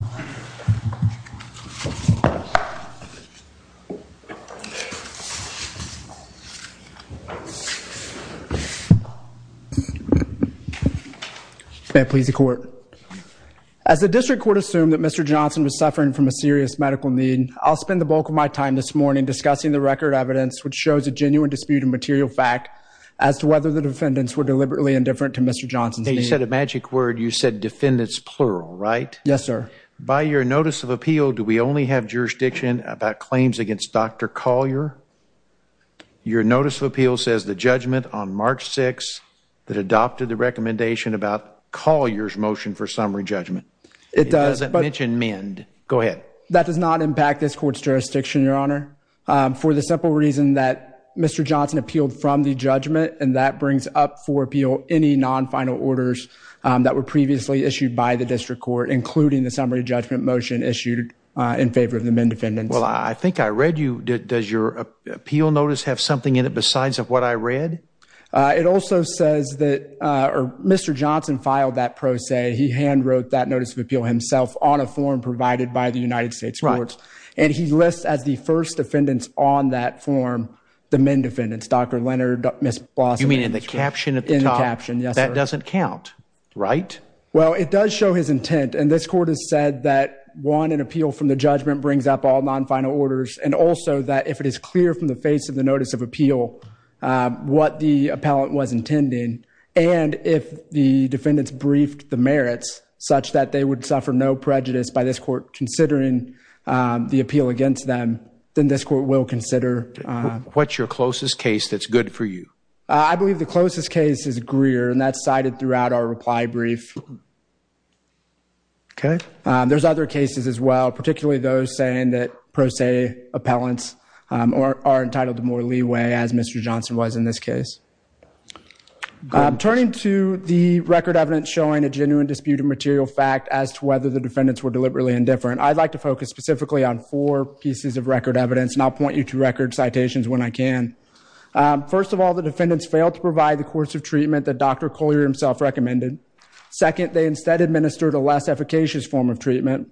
May I please the court? As the district court assumed that Mr. Johnson was suffering from a serious medical need, I'll spend the bulk of my time this morning discussing the record evidence which shows a genuine dispute of material fact as to whether the defendants were deliberately indifferent to Mr. Johnson's need. You said a magic word, you said defendants plural right? Yes sir. By your notice of appeal do we only have jurisdiction about claims against Dr. Collier? Your notice of appeal says the judgment on March 6th that adopted the recommendation about Collier's motion for summary judgment. It doesn't mention MEND. Go ahead. That does not impact this court's jurisdiction your honor. For the simple reason that Mr. Johnson appealed from the judgment and that brings up for appeal any non-final orders that were previously issued by the district court including the summary judgment motion issued in favor of the MEND defendants. Well I think I read you, does your appeal notice have something in it besides of what I read? It also says that Mr. Johnson filed that pro se, he hand wrote that notice of appeal himself on a form provided by the United States courts and he lists as the first defendants on that form the MEND defendants, Dr. Leonard, Ms. Blossom. You mean in the caption at the top? In the caption, yes sir. That doesn't count right? Well it does show his intent and this court has said that one an appeal from the judgment brings up all non-final orders and also that if it is clear from the face of the notice of appeal what the appellant was intending and if the defendants briefed the merits such that they would suffer no prejudice by this court considering the appeal against them then this court will consider. What's your closest case that's good for you? I believe the closest case is Greer and that's cited throughout our reply brief. There's other cases as well particularly those saying that pro se appellants are entitled to more leeway as Mr. Johnson was in this case. Turning to the record evidence showing a genuine dispute of material fact as to whether the defendants were deliberately indifferent, I'd like to show pieces of record evidence and I'll point you to record citations when I can. First of all, the defendants failed to provide the course of treatment that Dr. Colyer himself recommended. Second, they instead administered a less efficacious form of treatment.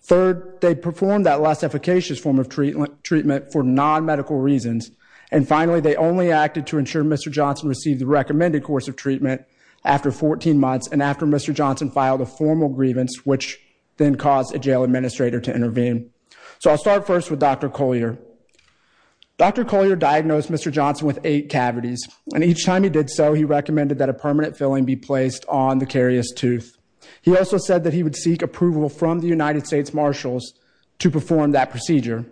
Third, they performed that less efficacious form of treatment for non-medical reasons. And finally, they only acted to ensure Mr. Johnson received the recommended course of treatment after 14 months and after Mr. Johnson filed a formal grievance which then caused a jail administrator to intervene. So I'll start first with Dr. Colyer. Dr. Colyer diagnosed Mr. Johnson with eight cavities and each time he did so he recommended that a permanent filling be placed on the carious tooth. He also said that he would seek approval from the United States Marshals to perform that procedure.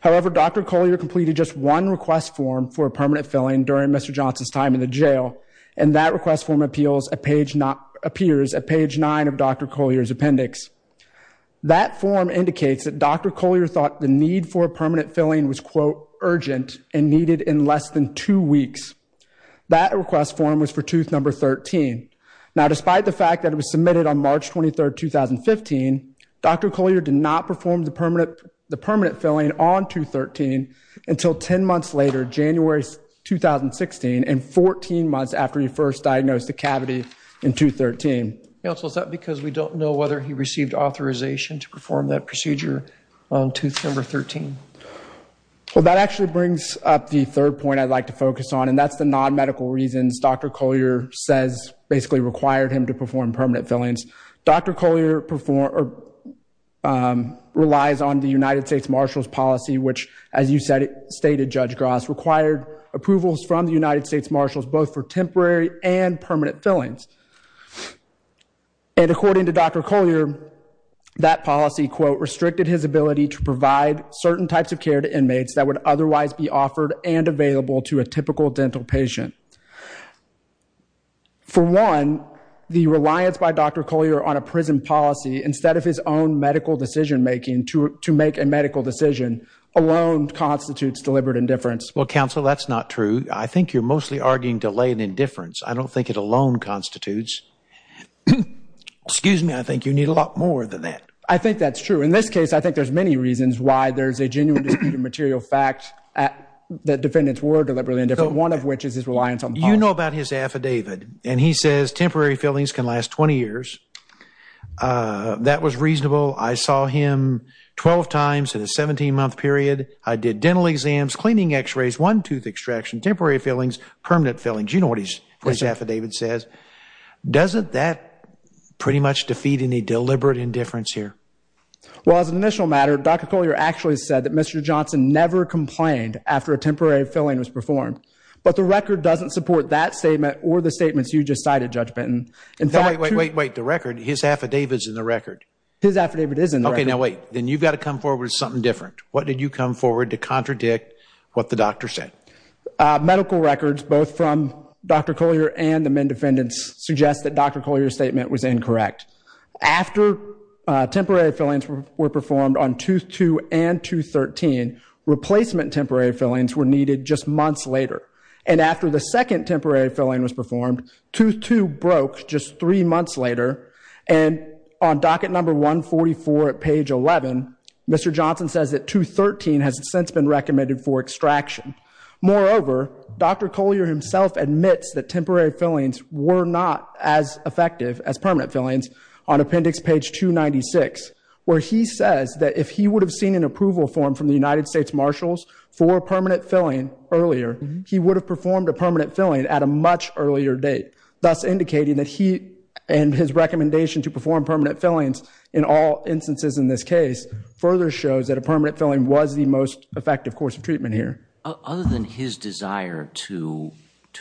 However, Dr. Colyer completed just one request form for a permanent filling during Mr. Johnson's time in the jail and that request form indicates that Dr. Colyer thought the need for a permanent filling was, quote, urgent and needed in less than two weeks. That request form was for tooth number 13. Now despite the fact that it was submitted on March 23, 2015, Dr. Colyer did not perform the permanent filling on tooth 13 until 10 months later, January 2016 and 14 months after he first diagnosed the cavity in tooth 13. Counsel, is that because we don't know whether he received authorization to perform that procedure on tooth number 13? Well, that actually brings up the third point I'd like to focus on and that's the non-medical reasons Dr. Colyer says basically required him to perform permanent fillings. Dr. Colyer relies on the United States Marshals policy which, as you stated, Judge Gross, required approvals from the United States Marshals both for temporary and permanent fillings. And according to Dr. Colyer, that policy, quote, restricted his ability to provide certain types of care to inmates that would otherwise be offered and available to a typical dental patient. For one, the reliance by Dr. Colyer on a prison policy instead of his own medical decision making to make a medical decision alone constitutes deliberate indifference. Well, Counsel, that's not true. I think you're mostly arguing delayed indifference. I don't think it alone constitutes. Excuse me. I think you need a lot more than that. I think that's true. In this case, I think there's many reasons why there's a genuine dispute of material fact that defendants were deliberate indifference, one of which is his reliance on policy. You know about his affidavit and he says temporary fillings can last 20 years. That was reasonable. I saw him 12 times in a 17-month period. I did dental exams, cleaning x-rays, one tooth extraction, temporary fillings, permanent fillings. You know what his affidavit says. Doesn't that pretty much defeat any deliberate indifference here? Well, as an initial matter, Dr. Colyer actually said that Mr. Johnson never complained after a temporary filling was performed. But the record doesn't support that statement or the statements you just cited, Judge Benton. Wait, wait, wait, wait. The record, his affidavit's in the record. His affidavit is in the record. Okay, now wait. Then you've got to come forward with something different. What did you come forward to contradict what the doctor said? Medical records, both from Dr. Colyer and the men defendants, suggest that Dr. Colyer's statement was incorrect. After temporary fillings were performed on tooth 2 and tooth 13, replacement temporary fillings were needed just months later. And after the second temporary filling was performed, tooth 2 broke just three months later. And on docket number 144 at page 11, Mr. Johnson says that tooth 13 has since been recommended for extraction. Moreover, Dr. Colyer himself admits that temporary fillings were not as effective as permanent fillings on appendix page 296, where he says that if he would have seen an approval form from the United States Marshals for permanent filling earlier, he would have performed a permanent filling at a much earlier date, thus indicating that he and his recommendation to perform further shows that a permanent filling was the most effective course of treatment here. Other than his desire to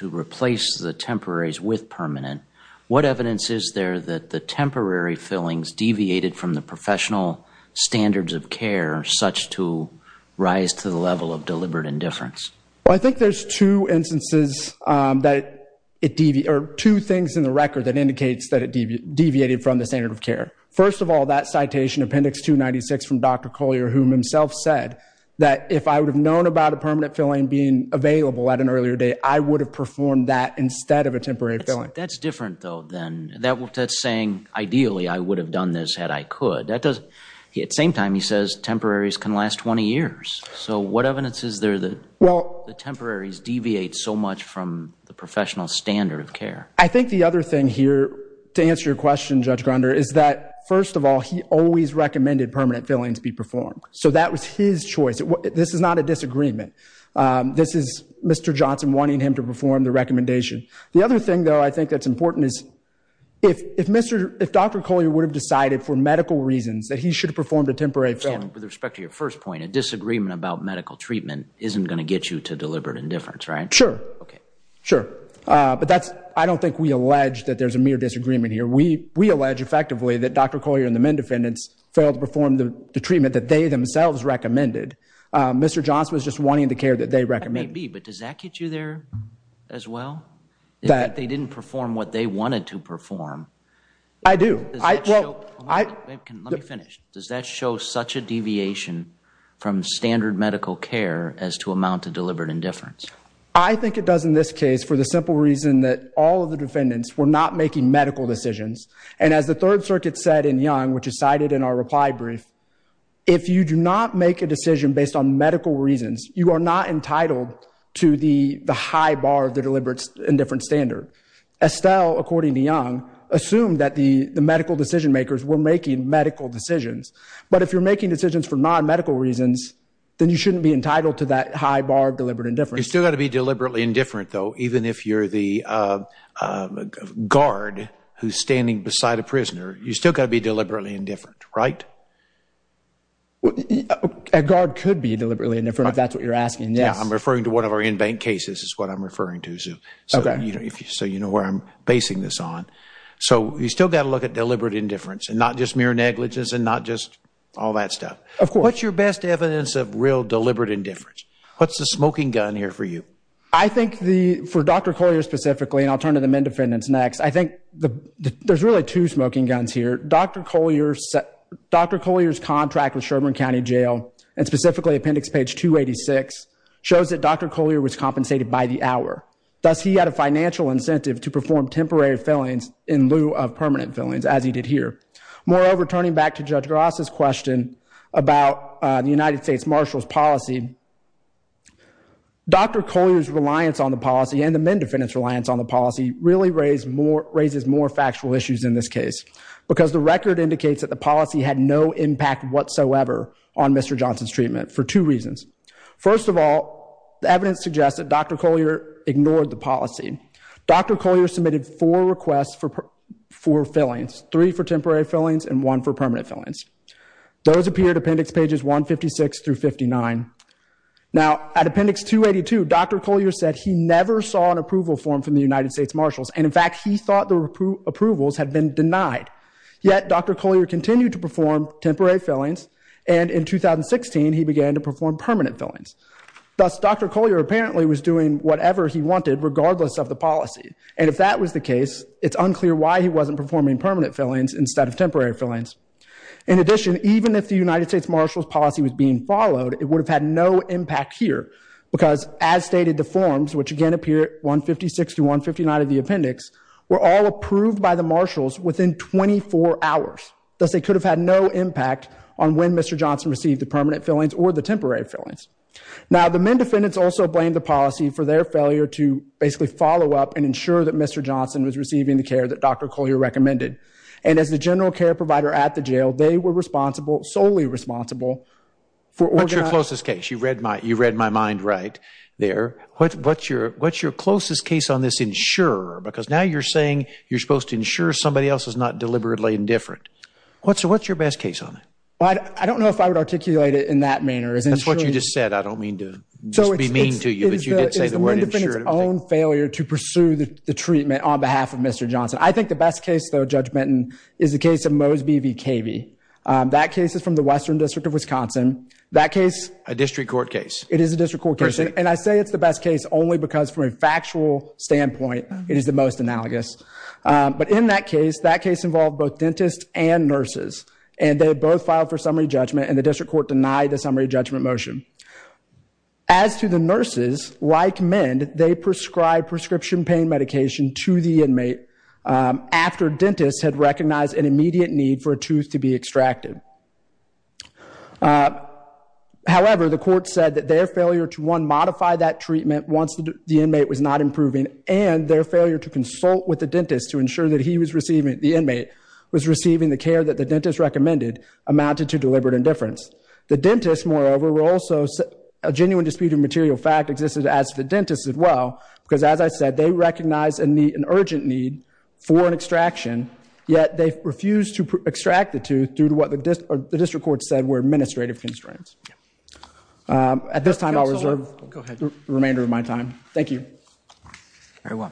replace the temporaries with permanent, what evidence is there that the temporary fillings deviated from the professional standards of care such to rise to the level of deliberate indifference? I think there's two instances that it deviated, or two things in the record that indicates that it deviated from the standard of care. First of all, that citation, appendix 296 from Dr. Colyer, whom himself said that if I would have known about a permanent filling being available at an earlier date, I would have performed that instead of a temporary filling. That's different, though, then. That's saying, ideally, I would have done this had I could. At the same time, he says temporaries can last 20 years. So what evidence is there that the temporaries deviate so much from the professional standard of care? I think the other thing here, to answer your question, Judge Grunder, is that first of all, he always recommended permanent fillings be performed. So that was his choice. This is not a disagreement. This is Mr. Johnson wanting him to perform the recommendation. The other thing, though, I think that's important is, if Dr. Colyer would have decided for medical reasons that he should have performed a temporary filling. So, with respect to your first point, a disagreement about medical treatment isn't going to get you to deliberate indifference, right? Sure. Sure. But I don't think we allege that there's a mere disagreement here. We allege effectively that Dr. Colyer and the MEND defendants failed to perform the treatment that they themselves recommended. Mr. Johnson was just wanting the care that they recommended. That may be, but does that get you there as well? That they didn't perform what they wanted to perform? I do. Does that show... Let me finish. Does that show such a deviation from standard medical care as to amount to deliberate indifference? I think it does in this case for the simple reason that all of the defendants were not making medical decisions. And as the Third Circuit said in Young, which is cited in our reply brief, if you do not make a decision based on medical reasons, you are not entitled to the high bar of the deliberate indifference standard. Estelle, according to Young, assumed that the medical decision makers were making medical decisions. But if you're making decisions for non-medical reasons, then you shouldn't be entitled to that high bar of deliberate indifference. You've still got to be deliberately indifferent, though, even if you're the guard who's standing beside a prisoner. You've still got to be deliberately indifferent, right? A guard could be deliberately indifferent, if that's what you're asking, yes. I'm referring to one of our in-bank cases is what I'm referring to, so you know where I'm basing this on. So you've still got to look at deliberate indifference and not just mere negligence and not just all that stuff. Of course. What's your best evidence of real deliberate indifference? What's the smoking gun here for you? I think for Dr. Colyer specifically, and I'll turn to the men defendants next, I think there's really two smoking guns here. Dr. Colyer's contract with Sherbourne County Jail and specifically appendix page 286 shows that Dr. Colyer was compensated by the hour. Thus, he had a financial incentive to perform temporary fillings in lieu of permanent fillings, as he did here. Moreover, turning back to Judge Gross' question about the United States Marshal's policy, Dr. Colyer's reliance on the policy and the men defendants' reliance on the policy really raises more factual issues in this case because the record indicates that the policy had no impact whatsoever on Mr. Johnson's treatment for two reasons. First of all, the evidence suggests that Dr. Colyer ignored the policy. Dr. Colyer submitted four requests for fillings, three for temporary fillings and one for permanent fillings. Those appear to appendix pages 156 through 59. Now, at appendix 282, Dr. Colyer said he never saw an approval form from the United States Marshals, and in fact, he thought the approvals had been denied. Yet, Dr. Colyer continued to perform temporary fillings, and in 2016, he began to perform permanent fillings. Thus, Dr. Colyer apparently was doing whatever he was doing, and in the case, it's unclear why he wasn't performing permanent fillings instead of temporary fillings. In addition, even if the United States Marshal's policy was being followed, it would have had no impact here because, as stated the forms, which again appear at 156 through 159 of the appendix, were all approved by the Marshals within 24 hours. Thus, they could have had no impact on when Mr. Johnson received the permanent fillings or the temporary fillings. Now, the men defendants also blamed the policy for their failure to basically follow up and ensure that Mr. Johnson was receiving the care that Dr. Colyer recommended, and as the general care provider at the jail, they were responsible, solely responsible, for organizing. What's your closest case? You read my mind right there. What's your closest case on this insurer? Because now you're saying you're supposed to insure somebody else is not deliberately indifferent. What's your best case on it? I don't know if I would articulate it in that manner. That's what you just said. I don't mean to just be mean to you, but you did say the word insurer. The men defendants own failure to pursue the treatment on behalf of Mr. Johnson. I think the best case, though, Judge Benton, is the case of Mosby v. Cavey. That case is from the Western District of Wisconsin. That case... A district court case. It is a district court case. Per se. And I say it's the best case only because, from a factual standpoint, it is the most analogous. But in that case, that case involved both dentists and nurses, and they both filed for summary judgment, and the district court denied the summary judgment motion. As to the nurses, like MEND, they prescribed prescription pain medication to the inmate after dentists had recognized an immediate need for a tooth to be extracted. However, the court said that their failure to, one, modify that treatment once the inmate was not improving, and their failure to consult with the dentist to ensure that he was receiving it, the inmate, was receiving the care that the dentist recommended, amounted to deliberate indifference. The dentists, moreover, were also... A genuine dispute of material fact existed as the dentists as well, because, as I said, they recognized an urgent need for an extraction, yet they refused to extract the tooth due to what the district court said were administrative constraints. At this time, I'll reserve the remainder of my time. Thank you. Very well.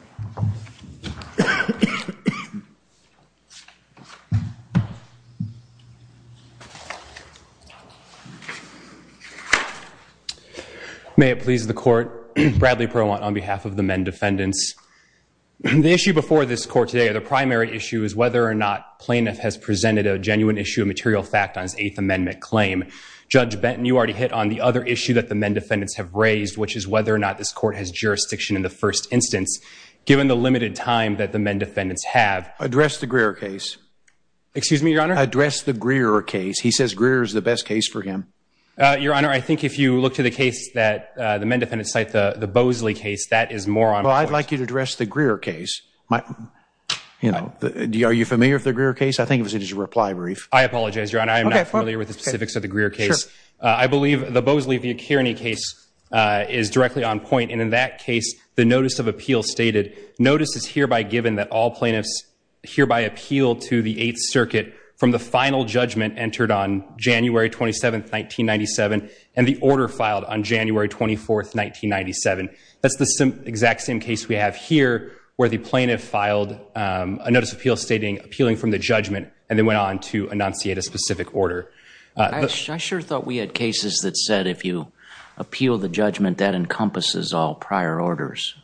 May it please the court. Bradley Perlwant on behalf of the MEND defendants. The issue before this court today, the primary issue, is whether or not plaintiff has presented a genuine issue of material fact on his Eighth Amendment claim. Judge Benton, you already hit on the other issue that the MEND defendants have raised, which is whether or not this court has jurisdiction in the first instance, given the limited time that the MEND defendants have. Address the Greer case. Excuse me, Your Honor? Address the Greer case. He says Greer is the best case for him. Your Honor, I think if you look to the case that the MEND defendants cite, the Boesley case, that is more on point. Well, I'd like you to address the Greer case. Are you familiar with the Greer case? I think it was in his reply brief. I apologize, Your Honor. I am not familiar with the specifics of the Greer case. I believe the Boesley v. Kearney case is directly on point, and in that case, the notice of appeal plaintiffs hereby appealed to the Eighth Circuit from the final judgment entered on January 27th, 1997, and the order filed on January 24th, 1997. That's the exact same case we have here, where the plaintiff filed a notice of appeal stating appealing from the judgment, and then went on to enunciate a specific order. I sure thought we had cases that said if you appeal the judgment, that encompasses all prior orders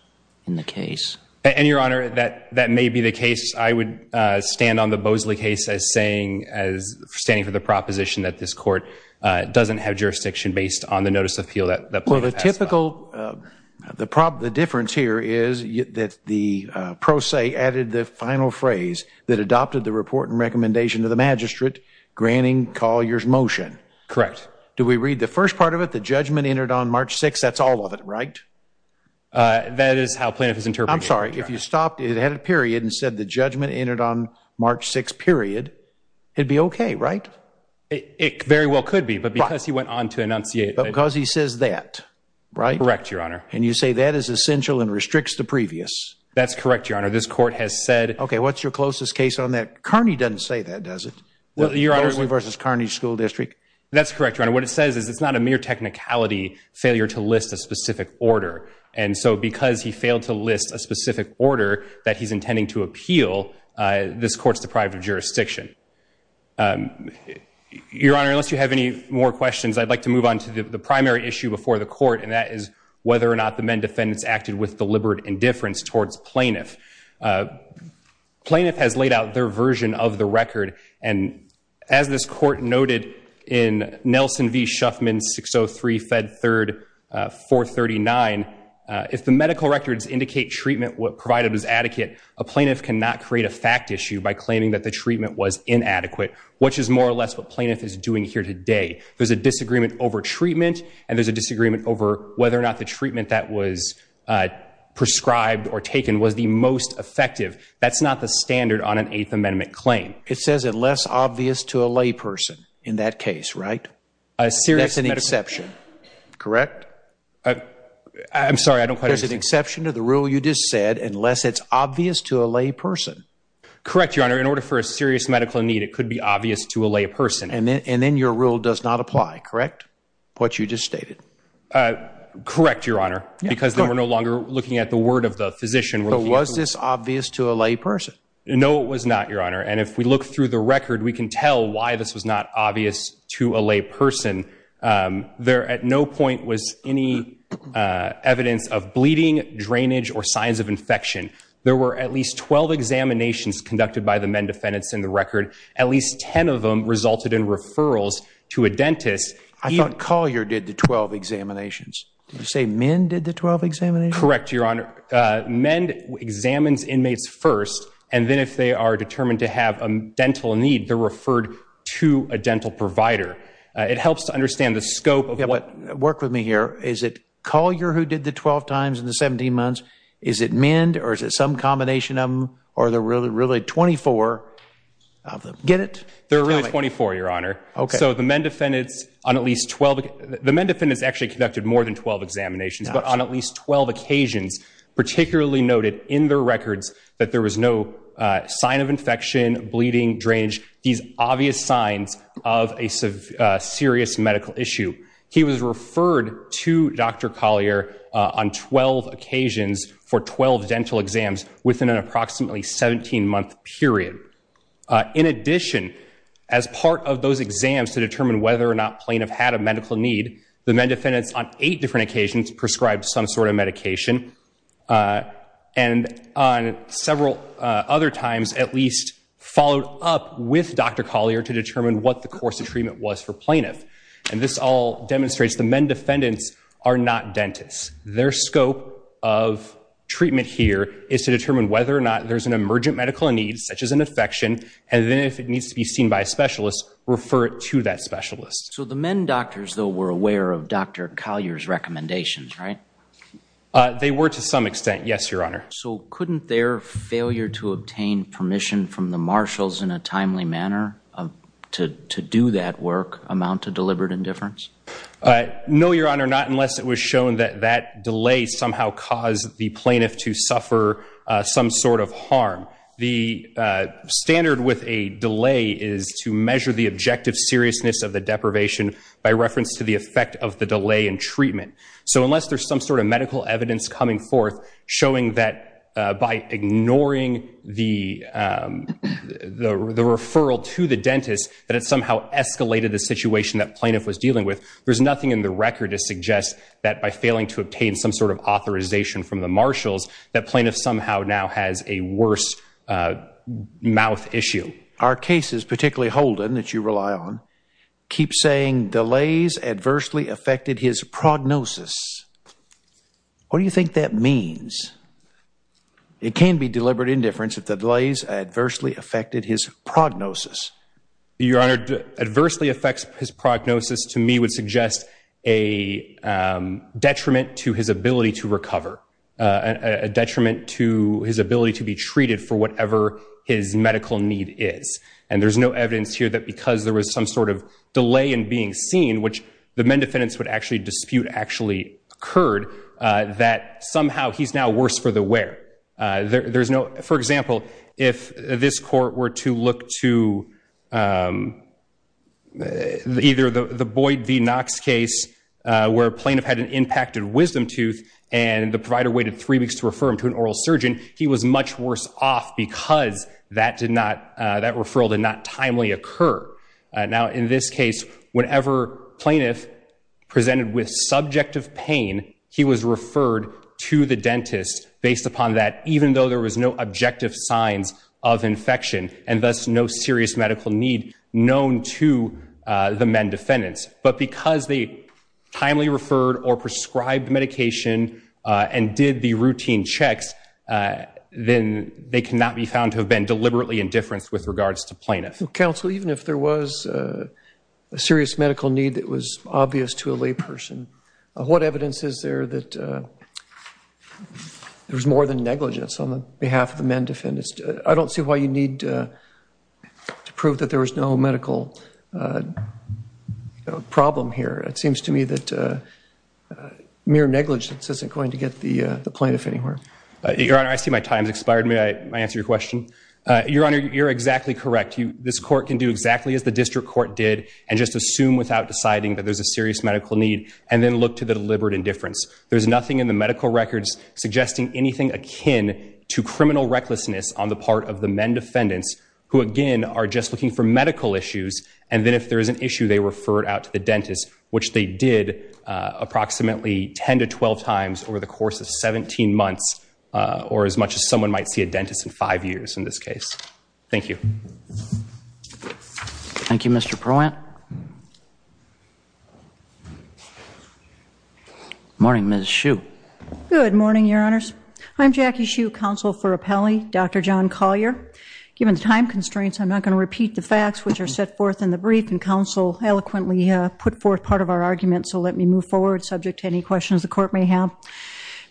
in the case. And, Your Honor, that may be the case. I would stand on the Boesley case as standing for the proposition that this Court doesn't have jurisdiction based on the notice of appeal that the plaintiff passed on. Well, the difference here is that the pro se added the final phrase that adopted the report and recommendation of the magistrate, granting Collier's motion. Correct. Do we read the first part of it? The judgment entered on March 6th. That's all of it, right? That is how plaintiff is interpreting it. I'm sorry. If you stopped, it had a period, and said the judgment entered on March 6th, period, it'd be okay, right? It very well could be, but because he went on to enunciate. But because he says that, right? Correct, Your Honor. And you say that is essential and restricts the previous. That's correct, Your Honor. This Court has said- Okay, what's your closest case on that? Kearney doesn't say that, does it? Boesley v. Kearney School District. That's correct, Your Honor. What it says is it's not a mere technicality failure to list a specific order. And so because he failed to list a specific order that he's intending to appeal, this Court's deprived of jurisdiction. Your Honor, unless you have any more questions, I'd like to move on to the primary issue before the Court, and that is whether or not the men defendants acted with deliberate indifference towards plaintiff. Plaintiff has laid out their version of the record, and as this Court noted in Nelson v. Shuffman 603 Fed 3rd 439, if the medical records indicate treatment provided was adequate, a plaintiff cannot create a fact issue by claiming that the treatment was inadequate, which is more or less what plaintiff is doing here today. There's a disagreement over treatment, and there's a disagreement over whether or not the treatment that was prescribed or taken was the most effective. That's not the standard on an Eighth Amendment claim. It says it less obvious to a layperson in that case, right? That's an exception, correct? I'm sorry, I don't quite understand. There's an exception to the rule you just said, unless it's obvious to a layperson. Correct, Your Honor. In order for a serious medical need, it could be obvious to a layperson. And then your rule does not apply, correct? What you just stated. Correct, Your Honor, because then we're no longer looking at the word of the physician. But was this obvious to a layperson? No, it was not, Your Honor. And if we look through the record, we can tell why this was not obvious to a layperson. There at no point was any evidence of bleeding, drainage, or signs of infection. There were at least 12 examinations conducted by the MEND defendants in the record. At least 10 of them resulted in referrals to a dentist. I thought Collier did the 12 examinations. Did you say MEND did the 12 examinations? Correct, Your Honor. MEND examines inmates first, and then if they are determined to have a dental need, they're referred to a dental provider. It helps to understand the scope of what... Work with me here. Is it Collier who did the 12 times in the 17 months? Is it MEND? Or is it some combination of them? Or are there really 24 of them? Get it? There are really 24, Your Honor. Okay. So the MEND defendants on at least 12... The MEND defendants actually conducted more than 12 examinations, but on at least 12 occasions particularly noted in their records that there was no sign of infection, bleeding, drainage, these obvious signs of a serious medical issue. He was referred to Dr. Collier on 12 occasions for 12 dental exams within an approximately 17-month period. In addition, as part of those exams to determine whether or not plaintiff had a medical need, the MEND defendants on eight different occasions prescribed some sort of medication and on several other times at least followed up with Dr. Collier to determine what the course of treatment was for plaintiff. And this all demonstrates the MEND defendants are not dentists. Their scope of treatment here is to determine whether or not there's an emergent medical need such as an infection, and then if it needs to be seen by a specialist, refer it to that specialist. So the MEND doctors, though, were aware of Dr. Collier's recommendations, right? They were to some extent, yes, Your Honor. So couldn't their failure to obtain permission from the marshals in a timely manner to do that work amount to deliberate indifference? No, Your Honor, not unless it was shown that that delay somehow caused the plaintiff to suffer some sort of harm. The standard with a delay is to measure the objective seriousness of the deprivation by reference to the effect of the delay in treatment. So unless there's some sort of medical evidence coming forth showing that by ignoring the referral to the dentist that it somehow escalated the situation that plaintiff was dealing with, there's nothing in the record to suggest that by failing to obtain some sort of authorization from the marshals, that plaintiff somehow now has a worse mouth issue. Our cases, particularly Holden, that you rely on, keep saying delays adversely affected his prognosis. What do you think that means? It can be deliberate indifference if the delays adversely affected his prognosis. Your Honor, adversely affects his prognosis, to me, would suggest a detriment to his ability to recover, a detriment to his ability to be treated for whatever his medical need is. And there's no evidence here that because there was some sort of delay in being seen, which the men defendants would actually dispute actually occurred, that somehow he's now worse for the wear. For example, if this court were to look to either the Boyd v. Knox case where a plaintiff had an impacted wisdom tooth and the provider waited three weeks to refer him to an oral surgeon, he was much worse off because that referral did not timely occur. Now, in this case, whenever plaintiff presented with subjective pain, he was referred to the dentist based upon that, even though there was no objective signs of infection and thus no serious medical need known to the men defendants. But because they timely referred or prescribed medication and did the routine checks, then they cannot be found to have been deliberately indifference with regards to plaintiffs. Counsel, even if there was a serious medical need that was obvious to a layperson, what evidence is there that there was more than negligence on behalf of the men defendants? I don't see why you need to prove that there was no medical problem here. It seems to me that mere negligence isn't going to get the plaintiff anywhere. Your Honor, I see my time has expired. May I answer your question? Your Honor, you're exactly correct. This court can do exactly as the district court did and just assume without deciding that there's a serious medical need and then look to the deliberate indifference. There's nothing in the medical records suggesting anything akin to criminal recklessness on the part of the men defendants who, again, are just looking for medical issues and then if there is an issue, they refer it out to the dentist, which they did approximately 10 to 12 times over the course of 17 months or as much as someone might see a dentist in five years in this case. Thank you. Thank you, Mr. Perlant. Good morning, Ms. Hsu. Good morning, Your Honors. I'm Jackie Hsu, counsel for Appelli, Dr. John Collier. Given the time constraints, I'm not going to repeat the facts which are set forth in the brief and counsel eloquently put forth part of our argument, so let me move forward subject to any questions the court may have.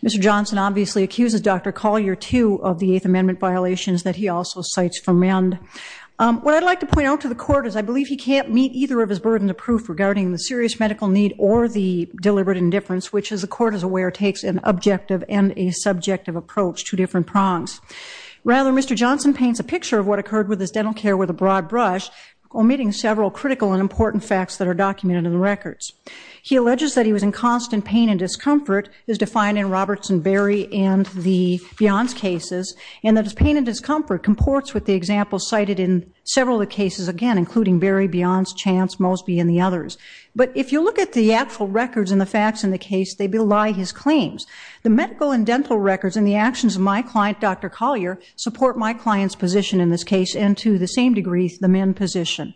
Mr. Johnson obviously accuses Dr. Collier, too, of the Eighth Amendment violations that he also cites from MEND. What I'd like to point out to the court is I believe he can't meet either of his burdens of proof regarding the serious medical need or the deliberate indifference, which, as the court is aware, takes an objective and a subjective approach, two different prongs. Rather, Mr. Johnson paints a picture of what occurred with his dental care with a broad brush, omitting several critical and important facts that are documented in the records. He alleges that he was in constant pain and discomfort, as defined in Roberts and Berry and the Beyonce cases, and that his pain and discomfort comports with the examples cited in several of the cases, again, including Berry, Beyonce, Chance, Mosby, and the others. But if you look at the actual records and the facts in the case, they belie his claims. The medical and dental records and the actions of my client, Dr. Collier, support my client's position in this case and, to the same degree, the MEND position.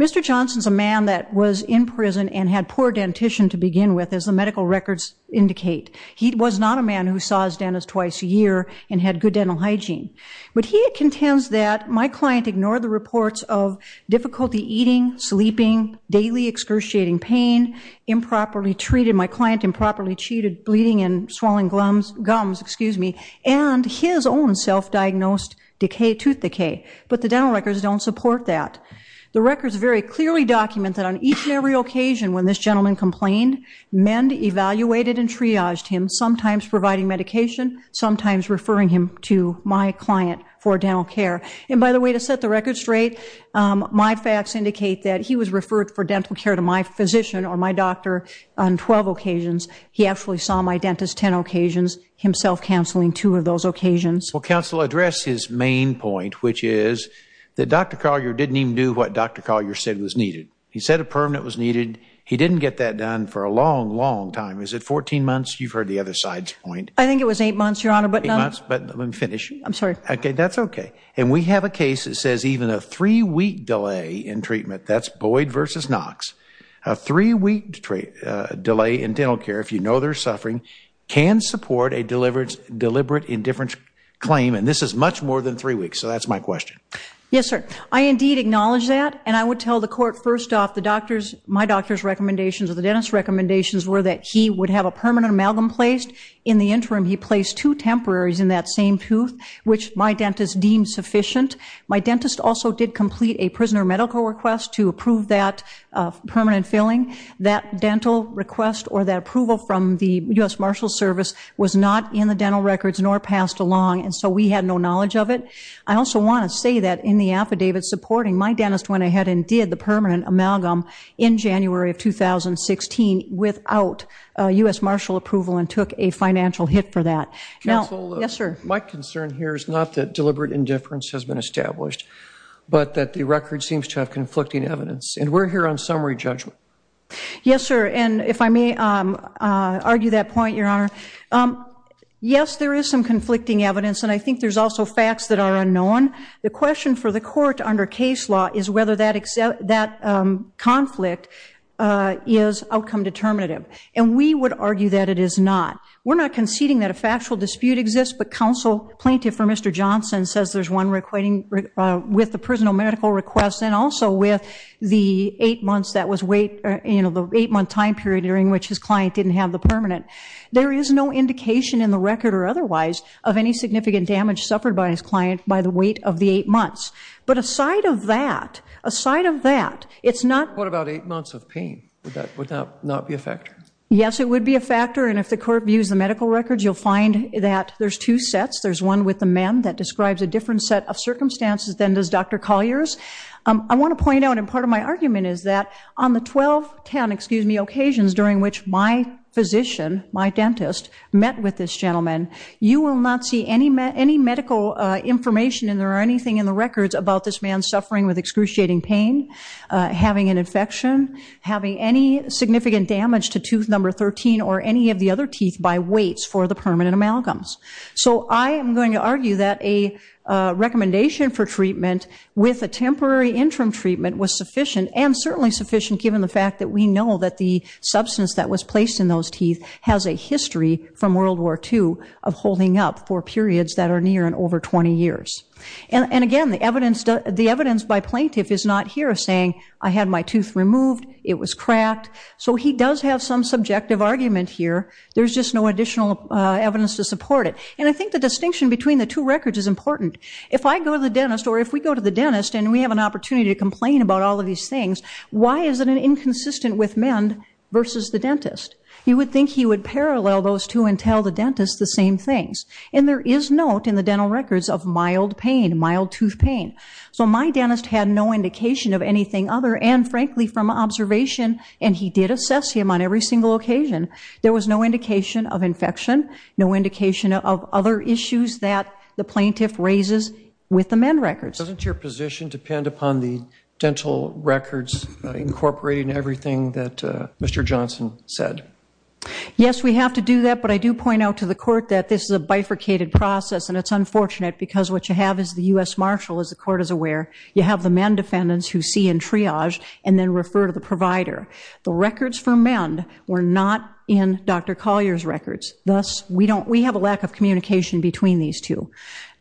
Mr. Johnson's a man that was in prison and had poor dentition to begin with, as the medical records indicate. He was not a man who saw his dentist twice a year and had good dental hygiene. But he contends that my client ignored the reports of difficulty eating, sleeping, daily excruciating pain, improperly treated, my client improperly cheated, bleeding and swallowing gums, and his own self-diagnosed tooth decay. But the dental records don't support that. The records very clearly document that on each and every occasion when this gentleman complained, MEND evaluated and triaged him, sometimes providing medication, sometimes referring him to my client for dental care. And, by the way, to set the record straight, my facts indicate that he was referred for dental care to my physician or my doctor on 12 occasions. He actually saw my dentist 10 occasions, himself counseling two of those occasions. Well, counsel, address his main point, which is that Dr. Collier didn't even do what Dr. Collier said was needed. He said a permanent was needed. He didn't get that done for a long, long time. Is it 14 months? You've heard the other side's point. I think it was eight months, Your Honor. Eight months, but let me finish. I'm sorry. That's okay. And we have a case that says even a three-week delay in treatment, that's Boyd v. Knox, a three-week delay in dental care, if you know there's suffering, can support a deliberate indifference claim, and this is much more than three weeks. So that's my question. Yes, sir. I indeed acknowledge that, and I would tell the Court, first off, my doctor's recommendations or the dentist's recommendations were that he would have a permanent amalgam placed. In the interim, he placed two temporaries in that same tooth, which my dentist deemed sufficient. My dentist also did complete a prisoner medical request to approve that permanent filling. That dental request or that approval from the U.S. Marshals Service was not in the dental records nor passed along, and so we had no knowledge of it. I also want to say that in the affidavit supporting, my dentist went ahead and did the permanent amalgam in January of 2016 without U.S. Marshal approval and took a financial hit for that. Counsel. Yes, sir. My concern here is not that deliberate indifference has been established, but that the record seems to have conflicting evidence, and we're here on summary judgment. Yes, sir, and if I may argue that point, Your Honor. Yes, there is some conflicting evidence, and I think there's also facts that are unknown. The question for the Court under case law is whether that conflict is outcome determinative, and we would argue that it is not. We're not conceding that a factual dispute exists, but counsel plaintiff for Mr. Johnson says there's one with the prisoner medical request and also with the eight months that was wait, you know, the eight-month time period during which his client didn't have the permanent. There is no indication in the record or otherwise of any significant damage suffered by his client by the wait of the eight months. But aside of that, aside of that, it's not. What about eight months of pain? Would that not be a factor? Yes, it would be a factor, and if the Court views the medical records, you'll find that there's two sets. There's one with the man that describes a different set of circumstances than does Dr. Collier's. I want to point out, and part of my argument is that on the 12, 10, excuse me, occasions during which my physician, my dentist, met with this gentleman, you will not see any medical information and there are anything in the records about this man suffering with excruciating pain, having an infection, having any significant damage to tooth number 13 or any of the other teeth by waits for the permanent amalgams. So I am going to argue that a recommendation for treatment with a temporary interim treatment was sufficient and certainly sufficient given the fact that we know that the substance that was placed in those teeth has a history from World War II of holding up for periods that are near and over 20 years. And again, the evidence by plaintiff is not here saying, I had my tooth removed, it was cracked. So he does have some subjective argument here. There's just no additional evidence to support it. And I think the distinction between the two records is important. If I go to the dentist or if we go to the dentist and we have an opportunity to complain about all of these things, why is it inconsistent with men versus the dentist? You would think he would parallel those two and tell the dentist the same things. And there is note in the dental records of mild pain, mild tooth pain. So my dentist had no indication of anything other, and frankly from observation, and he did assess him on every single occasion. There was no indication of infection, no indication of other issues that the plaintiff raises with the men records. Doesn't your position depend upon the dental records incorporating everything that Mr. Johnson said? Yes, we have to do that, but I do point out to the court that this is a bifurcated process and it's unfortunate because what you have is the U.S. Marshal, as the court is aware. You have the men defendants who see and triage and then refer to the provider. The records for men were not in Dr. Collier's records. Thus, we have a lack of communication between these two.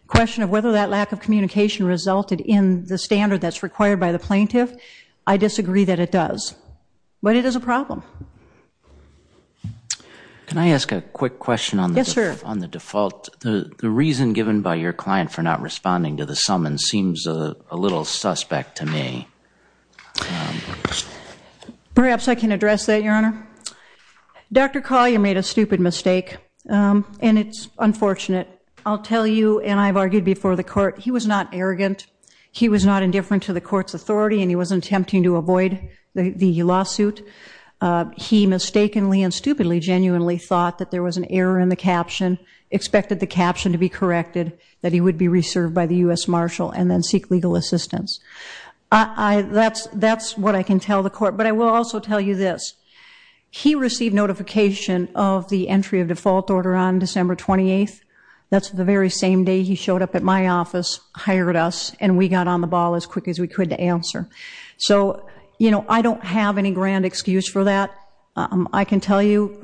The question of whether that lack of communication resulted in the standard that's required by the plaintiff, I disagree that it does. But it is a problem. Can I ask a quick question on the default? Yes, sir. The reason given by your client for not responding to the summons seems a little suspect to me. Perhaps I can address that, Your Honor. Dr. Collier made a stupid mistake, and it's unfortunate. I'll tell you, and I've argued before the court, he was not arrogant. He was not indifferent to the court's authority, and he wasn't attempting to avoid the lawsuit. He mistakenly and stupidly genuinely thought that there was an error in the caption, expected the caption to be corrected, that he would be reserved by the U.S. Marshal, and then seek legal assistance. That's what I can tell the court. But I will also tell you this. He received notification of the entry of default order on December 28th. That's the very same day he showed up at my office, hired us, and we got on the ball as quick as we could to answer. So, you know, I don't have any grand excuse for that. I can tell you,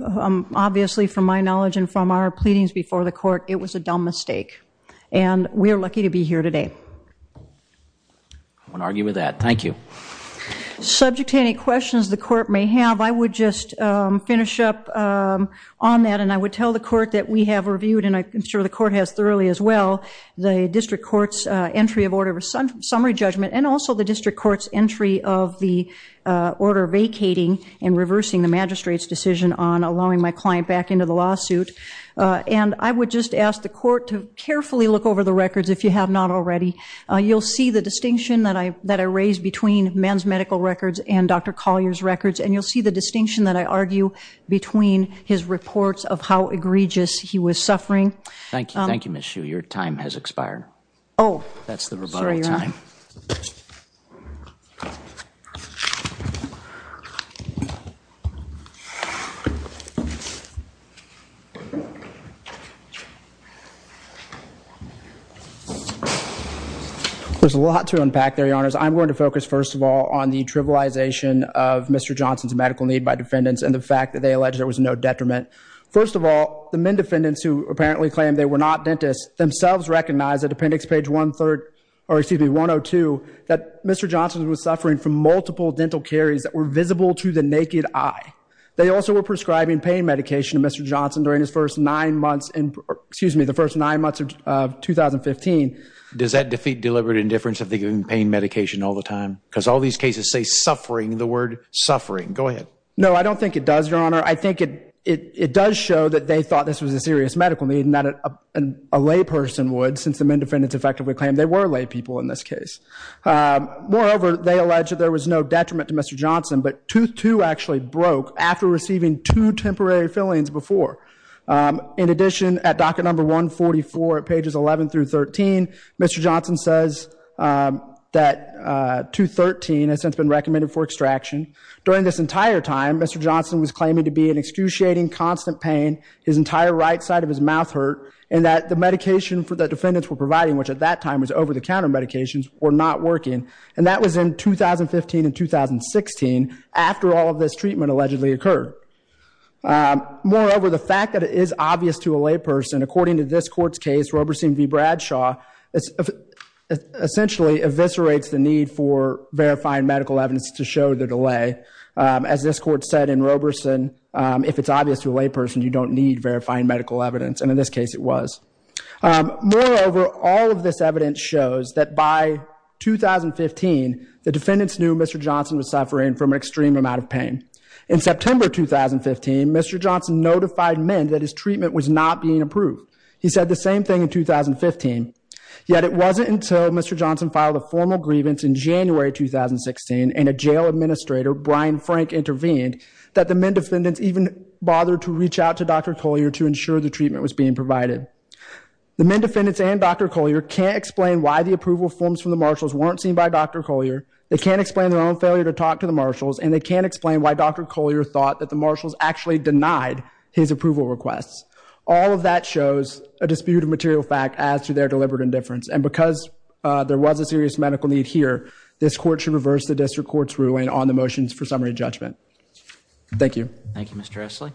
obviously, from my knowledge and from our pleadings before the court, it was a dumb mistake, and we are lucky to be here today. I won't argue with that. Thank you. Subject to any questions the court may have, I would just finish up on that, and I would tell the court that we have reviewed, and I'm sure the court has thoroughly as well, the district court's entry of order summary judgment and also the district court's entry of the order vacating and reversing the magistrate's decision on allowing my client back into the lawsuit. And I would just ask the court to carefully look over the records, if you have not already. You'll see the distinction that I raised between men's medical records and Dr. Collier's records, and you'll see the distinction that I argue between his reports of how egregious he was suffering. Thank you. Thank you, Ms. Hsu. Your time has expired. That's the rebuttal time. There's a lot to unpack there, Your Honors. I'm going to focus first of all on the trivialization of Mr. Johnson's medical need by defendants and the fact that they allege there was no detriment. First of all, the men defendants who apparently claim they were not dentists themselves recognize at appendix page 103, or excuse me, 102, that Mr. Johnson was suffering from multiple dental caries that were visible to the naked eye. They also were prescribing pain medication to Mr. Johnson during his first nine months, excuse me, the first nine months of 2015. Does that defeat deliberate indifference if they're giving pain medication all the time? Because all these cases say suffering, the word suffering. Go ahead. No, I don't think it does, Your Honor. I think it does show that they thought this was a serious medical need and that a lay person would since the men defendants effectively claim they were lay people in this case. Moreover, they allege that there was no detriment to Mr. Johnson, but tooth two actually broke after receiving two temporary fillings before. In addition, at docket number 144 at pages 11 through 13, Mr. Johnson says that tooth 13 has since been recommended for extraction. During this entire time, Mr. Johnson was claiming to be in excruciating constant pain. His entire right side of his mouth hurt and that the medication that the defendants were providing, which at that time was over-the-counter medications, were not working. And that was in 2015 and 2016 after all of this treatment allegedly occurred. Moreover, the fact that it is obvious to a lay person, according to this court's case, Roberson v. Bradshaw, essentially eviscerates the need for verifying medical evidence to show the delay. As this court said in Roberson, if it's obvious to a lay person, you don't need verifying medical evidence. And in this case it was. Moreover, all of this evidence shows that by 2015, the defendants knew Mr. Johnson was suffering from an extreme amount of pain. In September 2015, Mr. Johnson notified men that his treatment was not being approved. He said the same thing in 2015. Yet it wasn't until Mr. Johnson filed a formal grievance in January 2016 and a jail administrator, Brian Frank, intervened, that the men defendants even bothered to reach out to Dr. Collier to ensure the treatment was being provided. The men defendants and Dr. Collier can't explain why the approval forms from the marshals weren't seen by Dr. Collier. They can't explain their own failure to talk to the marshals. And they can't explain why Dr. Collier thought that the marshals actually denied his approval requests. All of that shows a dispute of material fact as to their deliberate indifference. And because there was a serious medical need here, this court should reverse the district court's ruling on the motions for summary judgment. Thank you. Thank you, Mr. Essley.